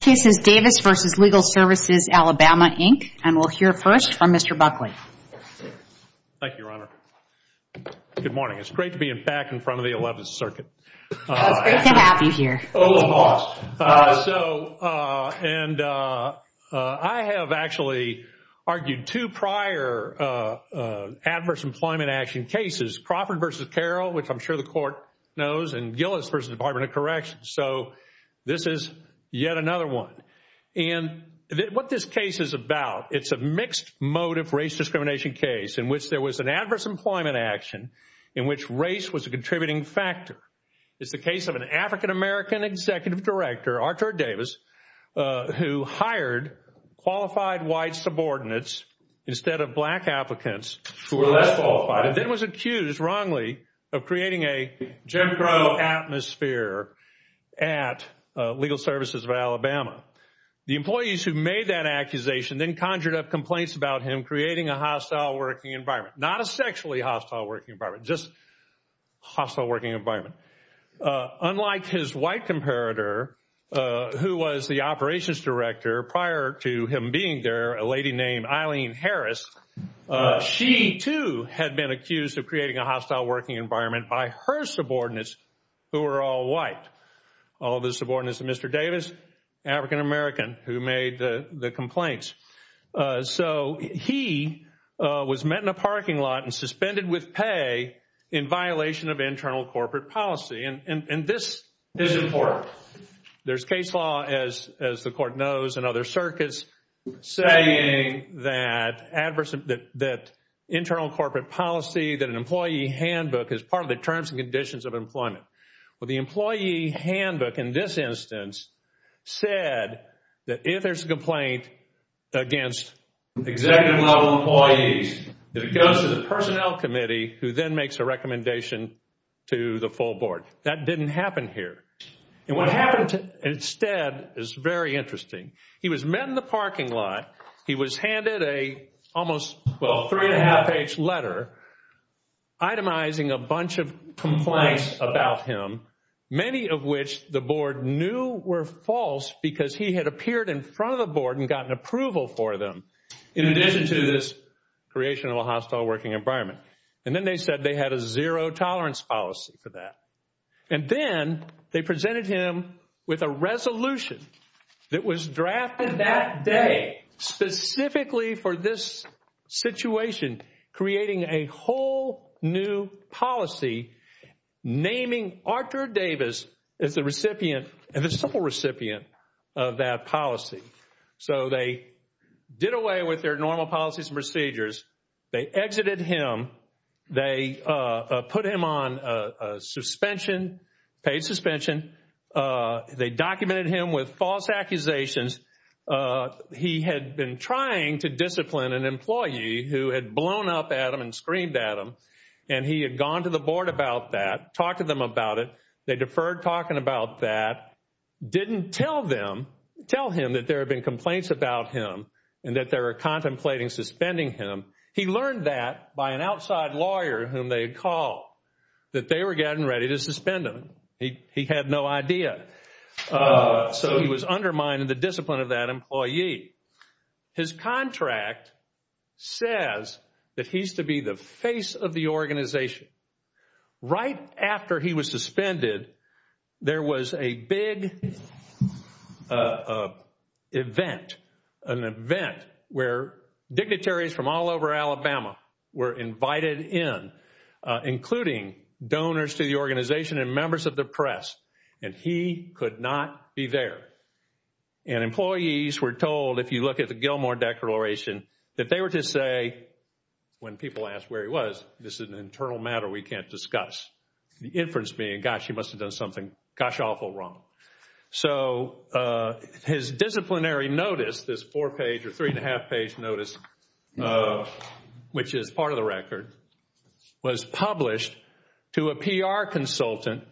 Cases Davis v. Legal Services Alabama, Inc., and we'll hear first from Mr. Buckley. Thank you, Your Honor. Good morning. It's great to be back in front of the Eleventh Circuit. It's great to have you here. So, and I have actually argued two prior adverse employment action cases, Crawford v. Carroll, which I'm sure the Court knows, and Gillis v. Department of Corrections. So, this is yet another one. And what this case is about, it's a mixed-motive race discrimination case in which there was an adverse employment action in which race was a contributing factor. It's the case of an African-American Executive Director, Artur Davis, who hired qualified white subordinates instead of black applicants who were less qualified and then was accused wrongly of creating a Jim Crow atmosphere at Legal Services of Alabama. The employees who made that accusation then conjured up complaints about him creating a hostile working environment, not a sexually hostile working environment, just hostile working environment. Unlike his white comparator, who was the Operations Director prior to him being there, a lady had been accused of creating a hostile working environment by her subordinates who were all white. All of the subordinates of Mr. Davis, African-American, who made the complaints. So, he was met in a parking lot and suspended with pay in violation of internal corporate policy. And this is important. There's case law, as the Court knows, and other circuits saying that internal corporate policy, that an employee handbook is part of the terms and conditions of employment. Well, the employee handbook in this instance said that if there's a complaint against executive-level employees, that it goes to the personnel committee who then makes a recommendation to the full board. That didn't happen here. And what happened instead is very interesting. He was met in the parking lot. He was handed a almost, well, three and a half page letter itemizing a bunch of complaints about him, many of which the board knew were false because he had appeared in front of the board and gotten approval for them in addition to this creation of a hostile working environment. And then they said they had a zero tolerance policy for that. And then they presented him with a resolution that was drafted that day specifically for this situation, creating a whole new policy naming Arthur Davis as the recipient and the sole recipient of that policy. So, they did away with their normal policies and procedures. They exited him. They put him on suspension, paid suspension. They documented him with false accusations. He had been trying to discipline an employee who had blown up at him and screamed at him. And he had gone to the board about that, talked to them about it. They deferred talking about that, didn't tell them, tell him that there had been complaints about him and that they were contemplating suspending him. He learned that by an outside lawyer whom they had called, that they were getting ready to suspend him. He had no idea. So, he was undermining the discipline of that employee. His contract says that he's to be the face of the organization. Right after he was suspended, there was a big event, an event where dignitaries from all over Alabama were invited in, including donors to the organization and members of the press. And he could not be there. And employees were told, if you look at the Gilmore Declaration, that they were to say, when people asked where he was, this is an internal matter we can't discuss. The inference being, gosh, he must have done something gosh-awful wrong. So, his disciplinary notice, this four-page or three-and-a-half-page notice, which is part of the record, was published to a PR consultant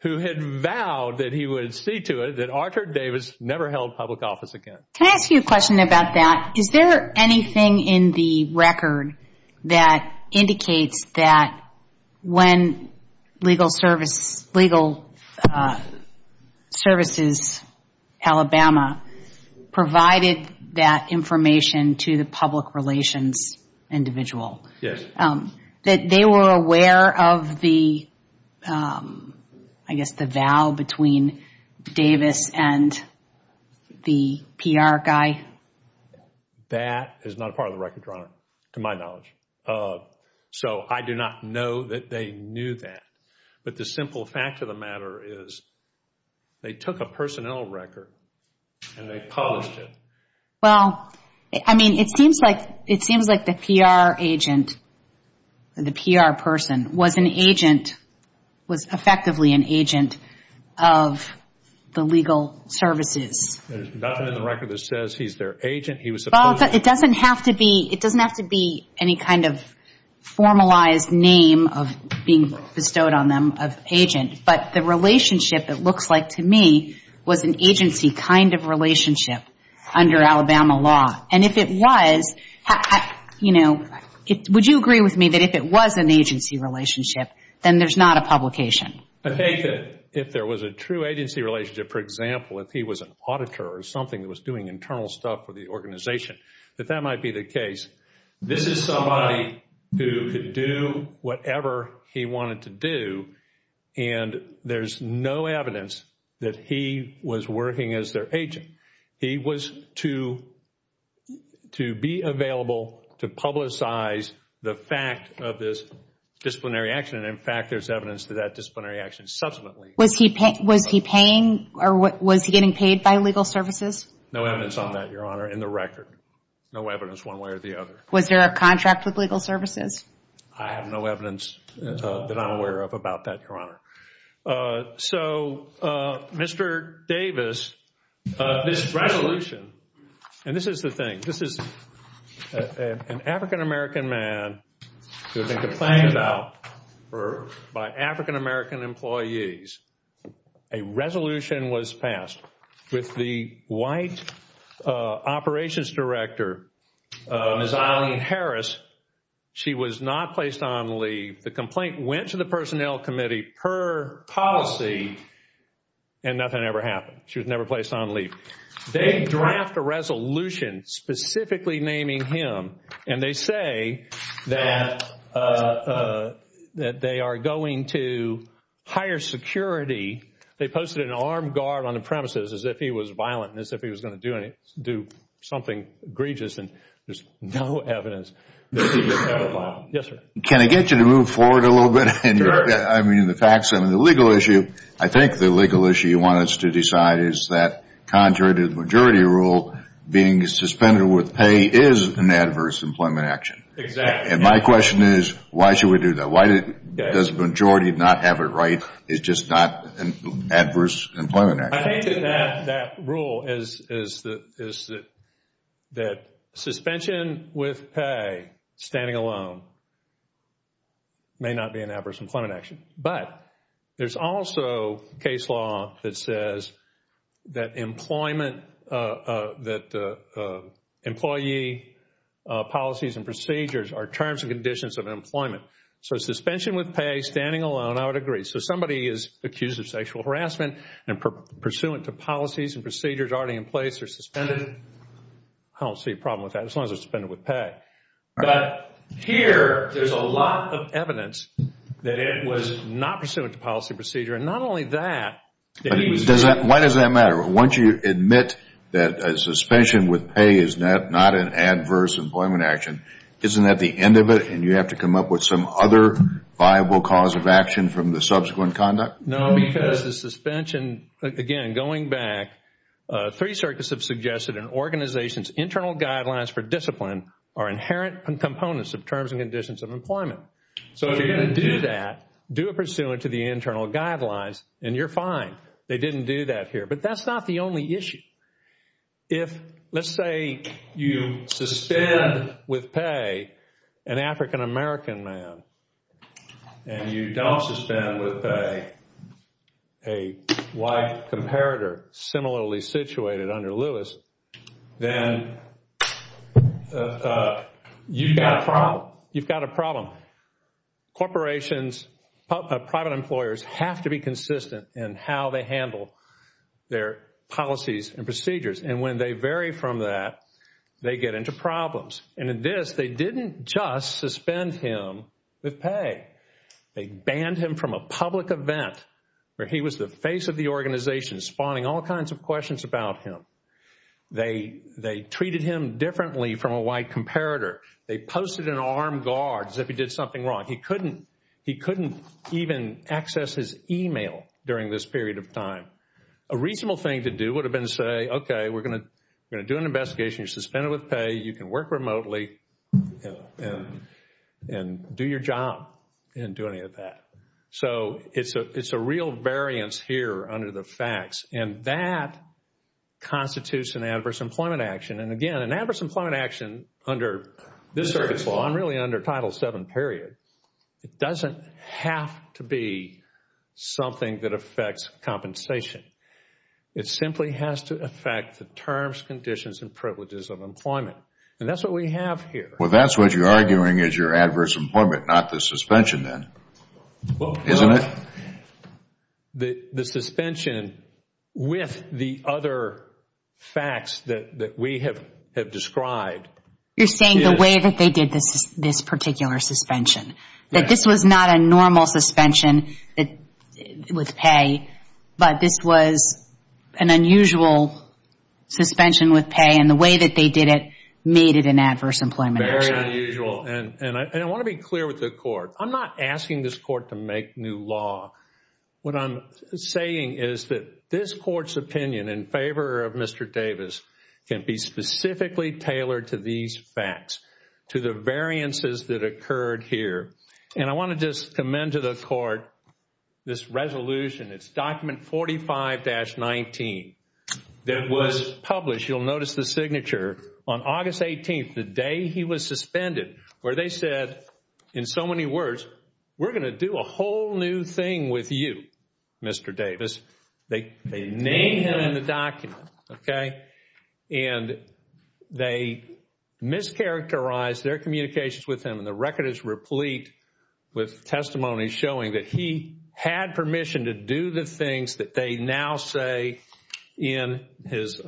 who had vowed that he would see to it that Arthur Davis never held public office again. Can I ask you a question about that? Is there anything in the record that indicates that when Legal Services Alabama provided that information to the public relations individual, that they were aware of the, I guess, the vow between Davis and the PR guy? That is not part of the record, Your Honor, to my knowledge. So, I do not know that they knew that. But the simple fact of the matter is they took a personnel record and they published it. Well, I mean, it seems like the PR agent, the PR person, was an agent, was effectively an agent of the Legal Services. There's nothing in the record that says he's their agent. He was supposed to be. Well, it doesn't have to be any kind of formalized name of being bestowed on them of agent. But the relationship, it looks like to me, was an agency kind of relationship under Alabama law. And if it was, would you agree with me that if it was an agency relationship, then there's not a publication? I think that if there was a true agency relationship, for example, if he was an auditor or something that was doing internal stuff for the organization, that that might be the case. This is somebody who could do whatever he wanted to do. And there's no evidence that he was working as their agent. He was to be available to publicize the fact of this disciplinary action. And, in fact, there's evidence to that disciplinary action subsequently. Was he paying or was he getting paid by Legal Services? No evidence on that, Your Honor, in the record. No evidence one way or the other. Was there a contract with Legal Services? I have no evidence that I'm aware of about that, Your Honor. So, Mr. Davis, this resolution, and this is the thing. This is an African-American man who had been complained about by African-American employees. A resolution was passed with the White Operations Director, Ms. Eileen Harris. She was not placed on leave. The complaint went to the Personnel Committee per policy, and nothing ever happened. She was never placed on leave. They draft a resolution specifically naming him, and they say that they are going to hire security. They posted an armed guard on the premises as if he was violent and as if he was going to do something egregious. And there's no evidence that he was ever violent. Yes, sir. Can I get you to move forward a little bit? Sure. The legal issue, I think the legal issue you want us to decide is that contrary to the majority rule, being suspended with pay is an adverse employment action. Exactly. And my question is, why should we do that? Why does the majority not have it right? It's just not an adverse employment action. I think that that rule is that suspension with pay, standing alone, may not be an adverse employment action. But there's also case law that says that employment, that employee policies and procedures are terms and conditions of employment. So suspension with pay, standing alone, I would agree. So somebody is accused of sexual harassment and pursuant to policies and procedures already in place, they're suspended. I don't see a problem with that as long as they're suspended with pay. But here, there's a lot of evidence that it was not pursuant to policy procedure. And not only that, that he was being Why does that matter? Once you admit that a suspension with pay is not an adverse employment action, isn't that the end of it? And you have to come up with some other viable cause of action from the subsequent conduct? No, because the suspension, again, going back, three circuits have suggested an organization's internal guidelines for discipline are inherent components of terms and conditions of employment. So if you're going to do that, do a pursuant to the internal guidelines, and you're fine. They didn't do that here. But that's not the only issue. If, let's say, you suspend with pay an African-American man, and you don't suspend with pay a white comparator similarly situated under Lewis, then you've got a problem. Corporations, private employers have to be consistent in how they handle their policies and procedures. And when they vary from that, they get into problems. And in this, they didn't just suspend him with pay. They banned him from a public event where he was the face of the organization, spawning all kinds of questions about him. They treated him differently from a white comparator. They posted an armed guard as if he did something wrong. He couldn't even access his email during this period of time. A reasonable thing to do would have been to say, okay, we're going to do an investigation. You're suspended with pay. You can work remotely and do your job and do any of that. So it's a real variance here under the facts. And that constitutes an adverse employment action. And again, an adverse employment action under this service law and really under Title VII period, it doesn't have to be something that affects compensation. It simply has to affect the terms, conditions, and privileges of employment. And that's what we have here. Well, that's what you're arguing is your adverse employment, not the suspension then, isn't it? The suspension with the other facts that we have described. You're saying the way that they did this particular suspension. That this was not a normal suspension with pay, but this was an unusual suspension with pay. And the way that they did it made it an adverse employment action. Very unusual. And I want to be clear with the court. I'm not asking this court to make new law. What I'm saying is that this court's opinion in favor of Mr. Davis can be specifically tailored to these facts, to the variances that occurred here. And I want to just commend to the court this resolution. It's document 45-19 that was published. You'll notice the signature. On August 18th, the day he was suspended, where they said in so many words, we're going to do a whole new thing with you, Mr. Davis. They named him in the document, okay? And they mischaracterized their communications with him. And the record is replete with testimony showing that he had permission to do the things that they now say in his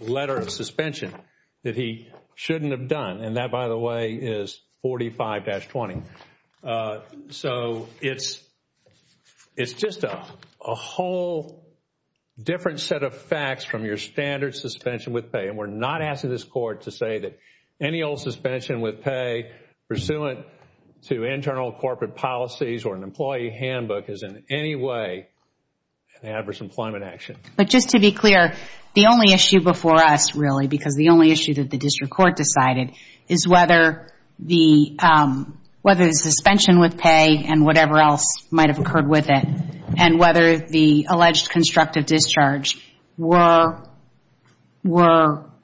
letter of suspension that he shouldn't have done. And that, by the way, is 45-20. So it's just a whole different set of facts from your standard suspension with pay. And we're not asking this court to say that any old suspension with pay pursuant to internal corporate policies or an employee handbook is in any way an adverse employment action. But just to be clear, the only issue before us, really, because the only issue that the district court decided is whether the suspension with pay and whatever else might have occurred with it, and whether the alleged constructive discharge were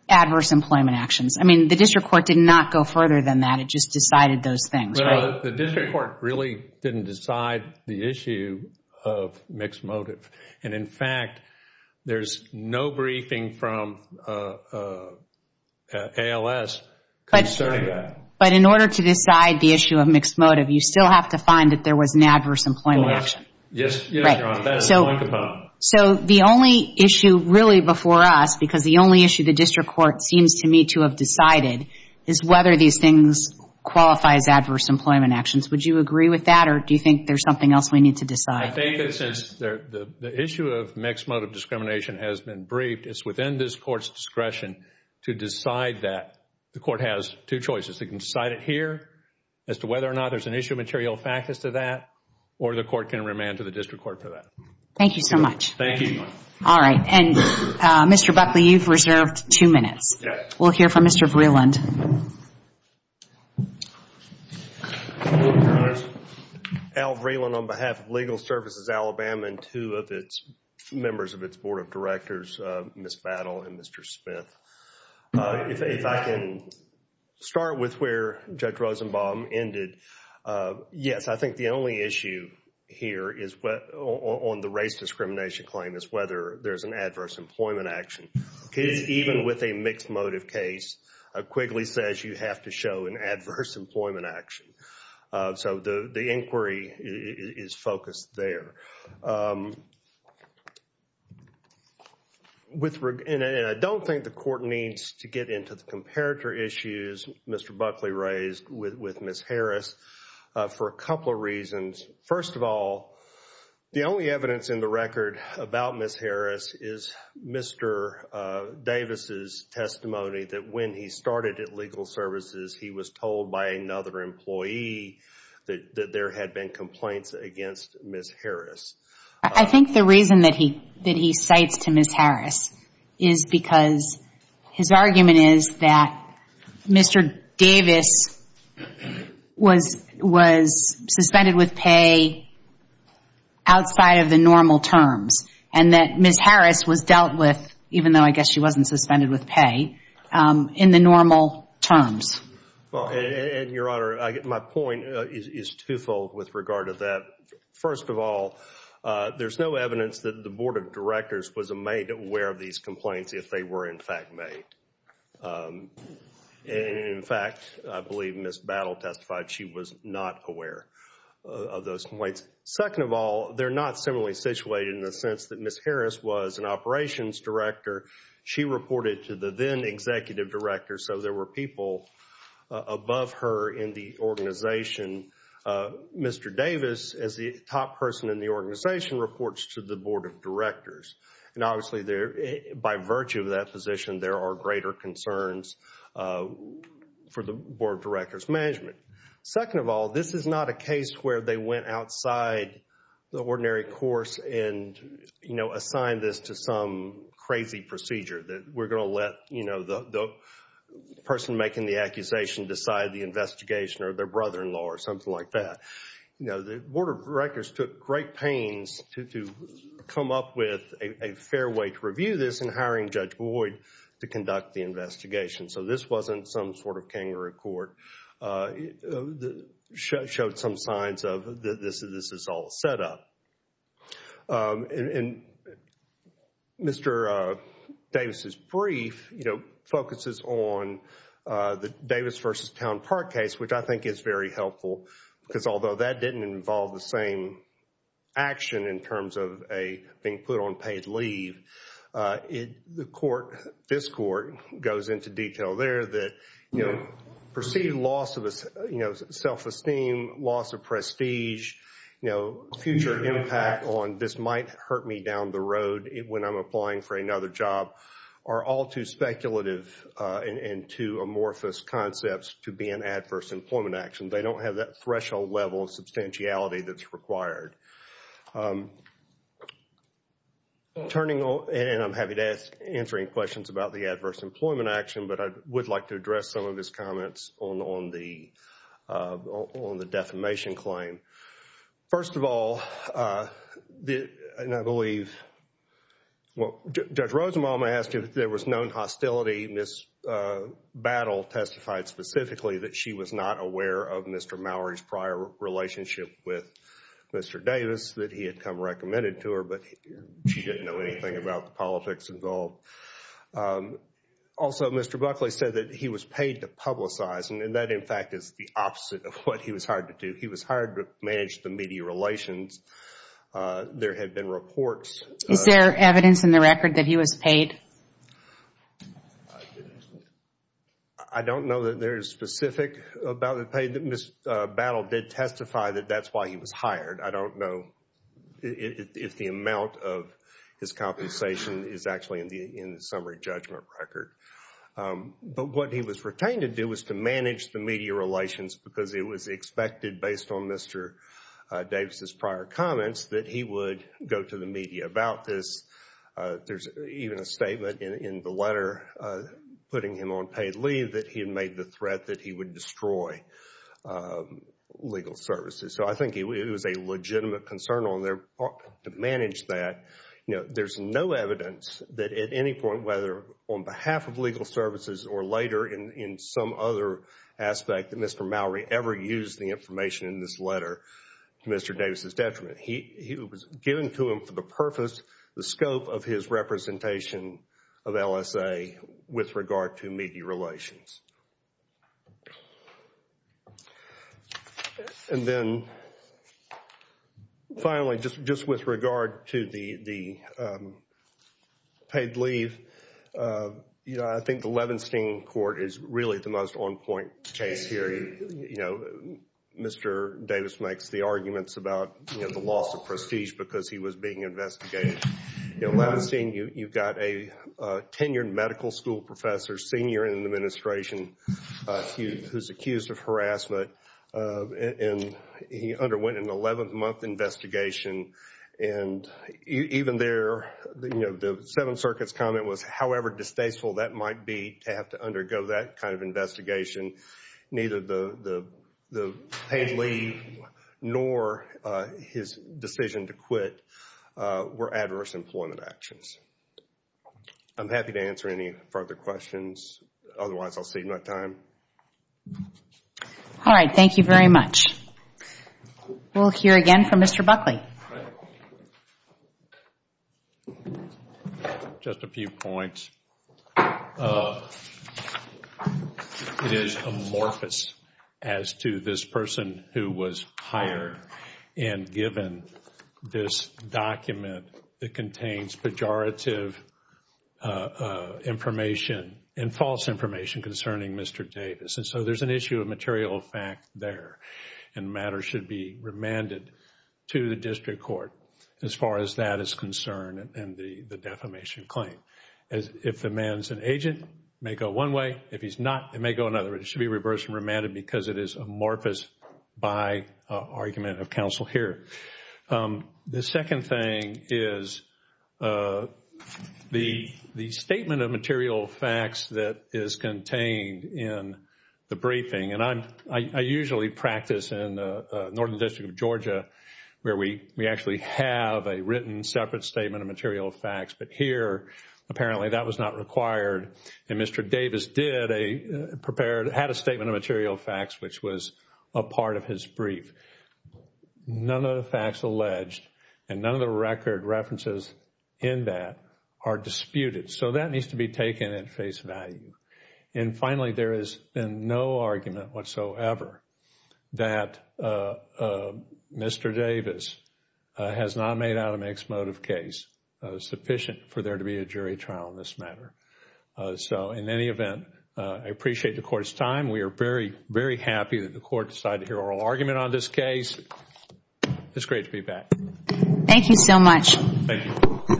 adverse employment actions. I mean, the district court did not go further than that. It just decided those things, right? The district court really didn't decide the issue of mixed motive. And, in fact, there's no briefing from ALS concerning that. But in order to decide the issue of mixed motive, you still have to find that there was an adverse employment action. Yes, Your Honor. So the only issue, really, before us, because the only issue the district court seems to me to have decided is whether these things qualify as adverse employment actions. Would you agree with that or do you think there's something else we need to decide? I think that since the issue of mixed motive discrimination has been briefed, it's within this court's discretion to decide that. The court has two choices. It can decide it here as to whether or not there's an issue of material factors to that or the court can remand to the district court for that. Thank you so much. Thank you. All right. And, Mr. Buckley, you've reserved two minutes. We'll hear from Mr. Vreeland. Al Vreeland on behalf of Legal Services Alabama and two of its members of its board of directors, Ms. Battle and Mr. Smith. If I can start with where Judge Rosenbaum ended. Yes, I think the only issue here on the race discrimination claim is whether there's an adverse employment action. Even with a mixed motive case, Quigley says you have to show an adverse employment action. So the inquiry is focused there. And I don't think the court needs to get into the comparator issues Mr. Buckley raised with Ms. Harris for a couple of reasons. First of all, the only evidence in the record about Ms. Harris is Mr. Davis' testimony that when he started at Legal Services, he was told by another employee that there had been complaints against Ms. Harris. I think the reason that he cites to Ms. Harris is because his argument is that Mr. Davis was suspended with pay outside of the normal terms and that Ms. Harris was dealt with, even though I guess she wasn't suspended with pay, in the normal terms. And, Your Honor, my point is twofold with regard to that. First of all, there's no evidence that the Board of Directors was made aware of these complaints if they were in fact made. And, in fact, I believe Ms. Battle testified she was not aware of those complaints. Second of all, they're not similarly situated in the sense that Ms. Harris was an operations director. She reported to the then executive director, so there were people above her in the organization. Mr. Davis, as the top person in the organization, reports to the Board of Directors. And, obviously, by virtue of that position, there are greater concerns for the Board of Directors' management. Second of all, this is not a case where they went outside the ordinary course and assigned this to some crazy procedure that we're going to let, you know, the person making the accusation decide the investigation or their brother-in-law or something like that. You know, the Board of Directors took great pains to come up with a fair way to review this and hiring Judge Boyd to conduct the investigation. So this wasn't some sort of kangaroo court that showed some signs of this is all set up. And Mr. Davis' brief, you know, focuses on the Davis v. Town Park case, which I think is very helpful because although that didn't involve the same action in terms of being put on paid leave, the court, this court, goes into detail there that, you know, perceived loss of self-esteem, loss of prestige, you know, future impact on this might hurt me down the road when I'm applying for another job are all too speculative and too amorphous concepts to be an adverse employment action. They don't have that threshold level of substantiality that's required. Turning on, and I'm happy to answer any questions about the adverse employment action, but I would like to address some of his comments on the defamation claim. First of all, and I believe Judge Rosenbaum asked if there was known hostility. Ms. Battle testified specifically that she was not aware of Mr. Mowery's prior relationship with Mr. Davis, that he had come recommended to her, but she didn't know anything about the politics involved. Also, Mr. Buckley said that he was paid to publicize, and that, in fact, is the opposite of what he was hired to do. He was hired to manage the media relations. There had been reports. Is there evidence in the record that he was paid? I don't know that there is specific about the pay. Ms. Battle did testify that that's why he was hired. I don't know if the amount of his compensation is actually in the summary judgment record, but what he was retained to do was to manage the media relations because it was expected, based on Mr. Davis' prior comments, that he would go to the media about this. There's even a statement in the letter putting him on paid leave that he had made the threat that he would destroy legal services. So, I think it was a legitimate concern on their part to manage that. There's no evidence that at any point, whether on behalf of legal services or later in some other aspect, that Mr. Mowery ever used the information in this letter to Mr. Davis' detriment. It was given to him for the purpose, the scope of his representation of LSA with regard to media relations. And then, finally, just with regard to the paid leave, I think the Levenstein court is really the most on-point case here. Mr. Davis makes the arguments about the loss of prestige because he was being investigated. You know, Levenstein, you've got a tenured medical school professor, senior in the administration, who's accused of harassment. And he underwent an 11-month investigation. And even there, you know, the Seventh Circuit's comment was however distasteful that might be to have to undergo that kind of investigation. Neither the paid leave nor his decision to quit were adverse employment actions. I'm happy to answer any further questions. Otherwise, I'll save my time. All right. Thank you very much. We'll hear again from Mr. Buckley. Just a few points. It is amorphous as to this person who was hired and given this document that contains pejorative information and false information concerning Mr. Davis. And so there's an issue of material fact there. And matters should be remanded to the district court as far as that is concerned and the defamation claim. If the man's an agent, it may go one way. If he's not, it may go another. It should be reversed and remanded because it is amorphous by argument of counsel here. The second thing is the statement of material facts that is contained in the briefing. And I usually practice in the Northern District of Georgia where we actually have a written separate statement of material facts. But here, apparently that was not required. And Mr. Davis did a prepared, had a statement of material facts, which was a part of his brief. None of the facts alleged and none of the record references in that are disputed. So that needs to be taken at face value. And finally, there has been no argument whatsoever that Mr. Davis has not made out an ex-motive case sufficient for there to be a jury trial in this matter. So in any event, I appreciate the court's time. We are very, very happy that the court decided to hear oral argument on this case. It's great to be back. Thank you so much. Thank you. Thank you.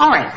All right.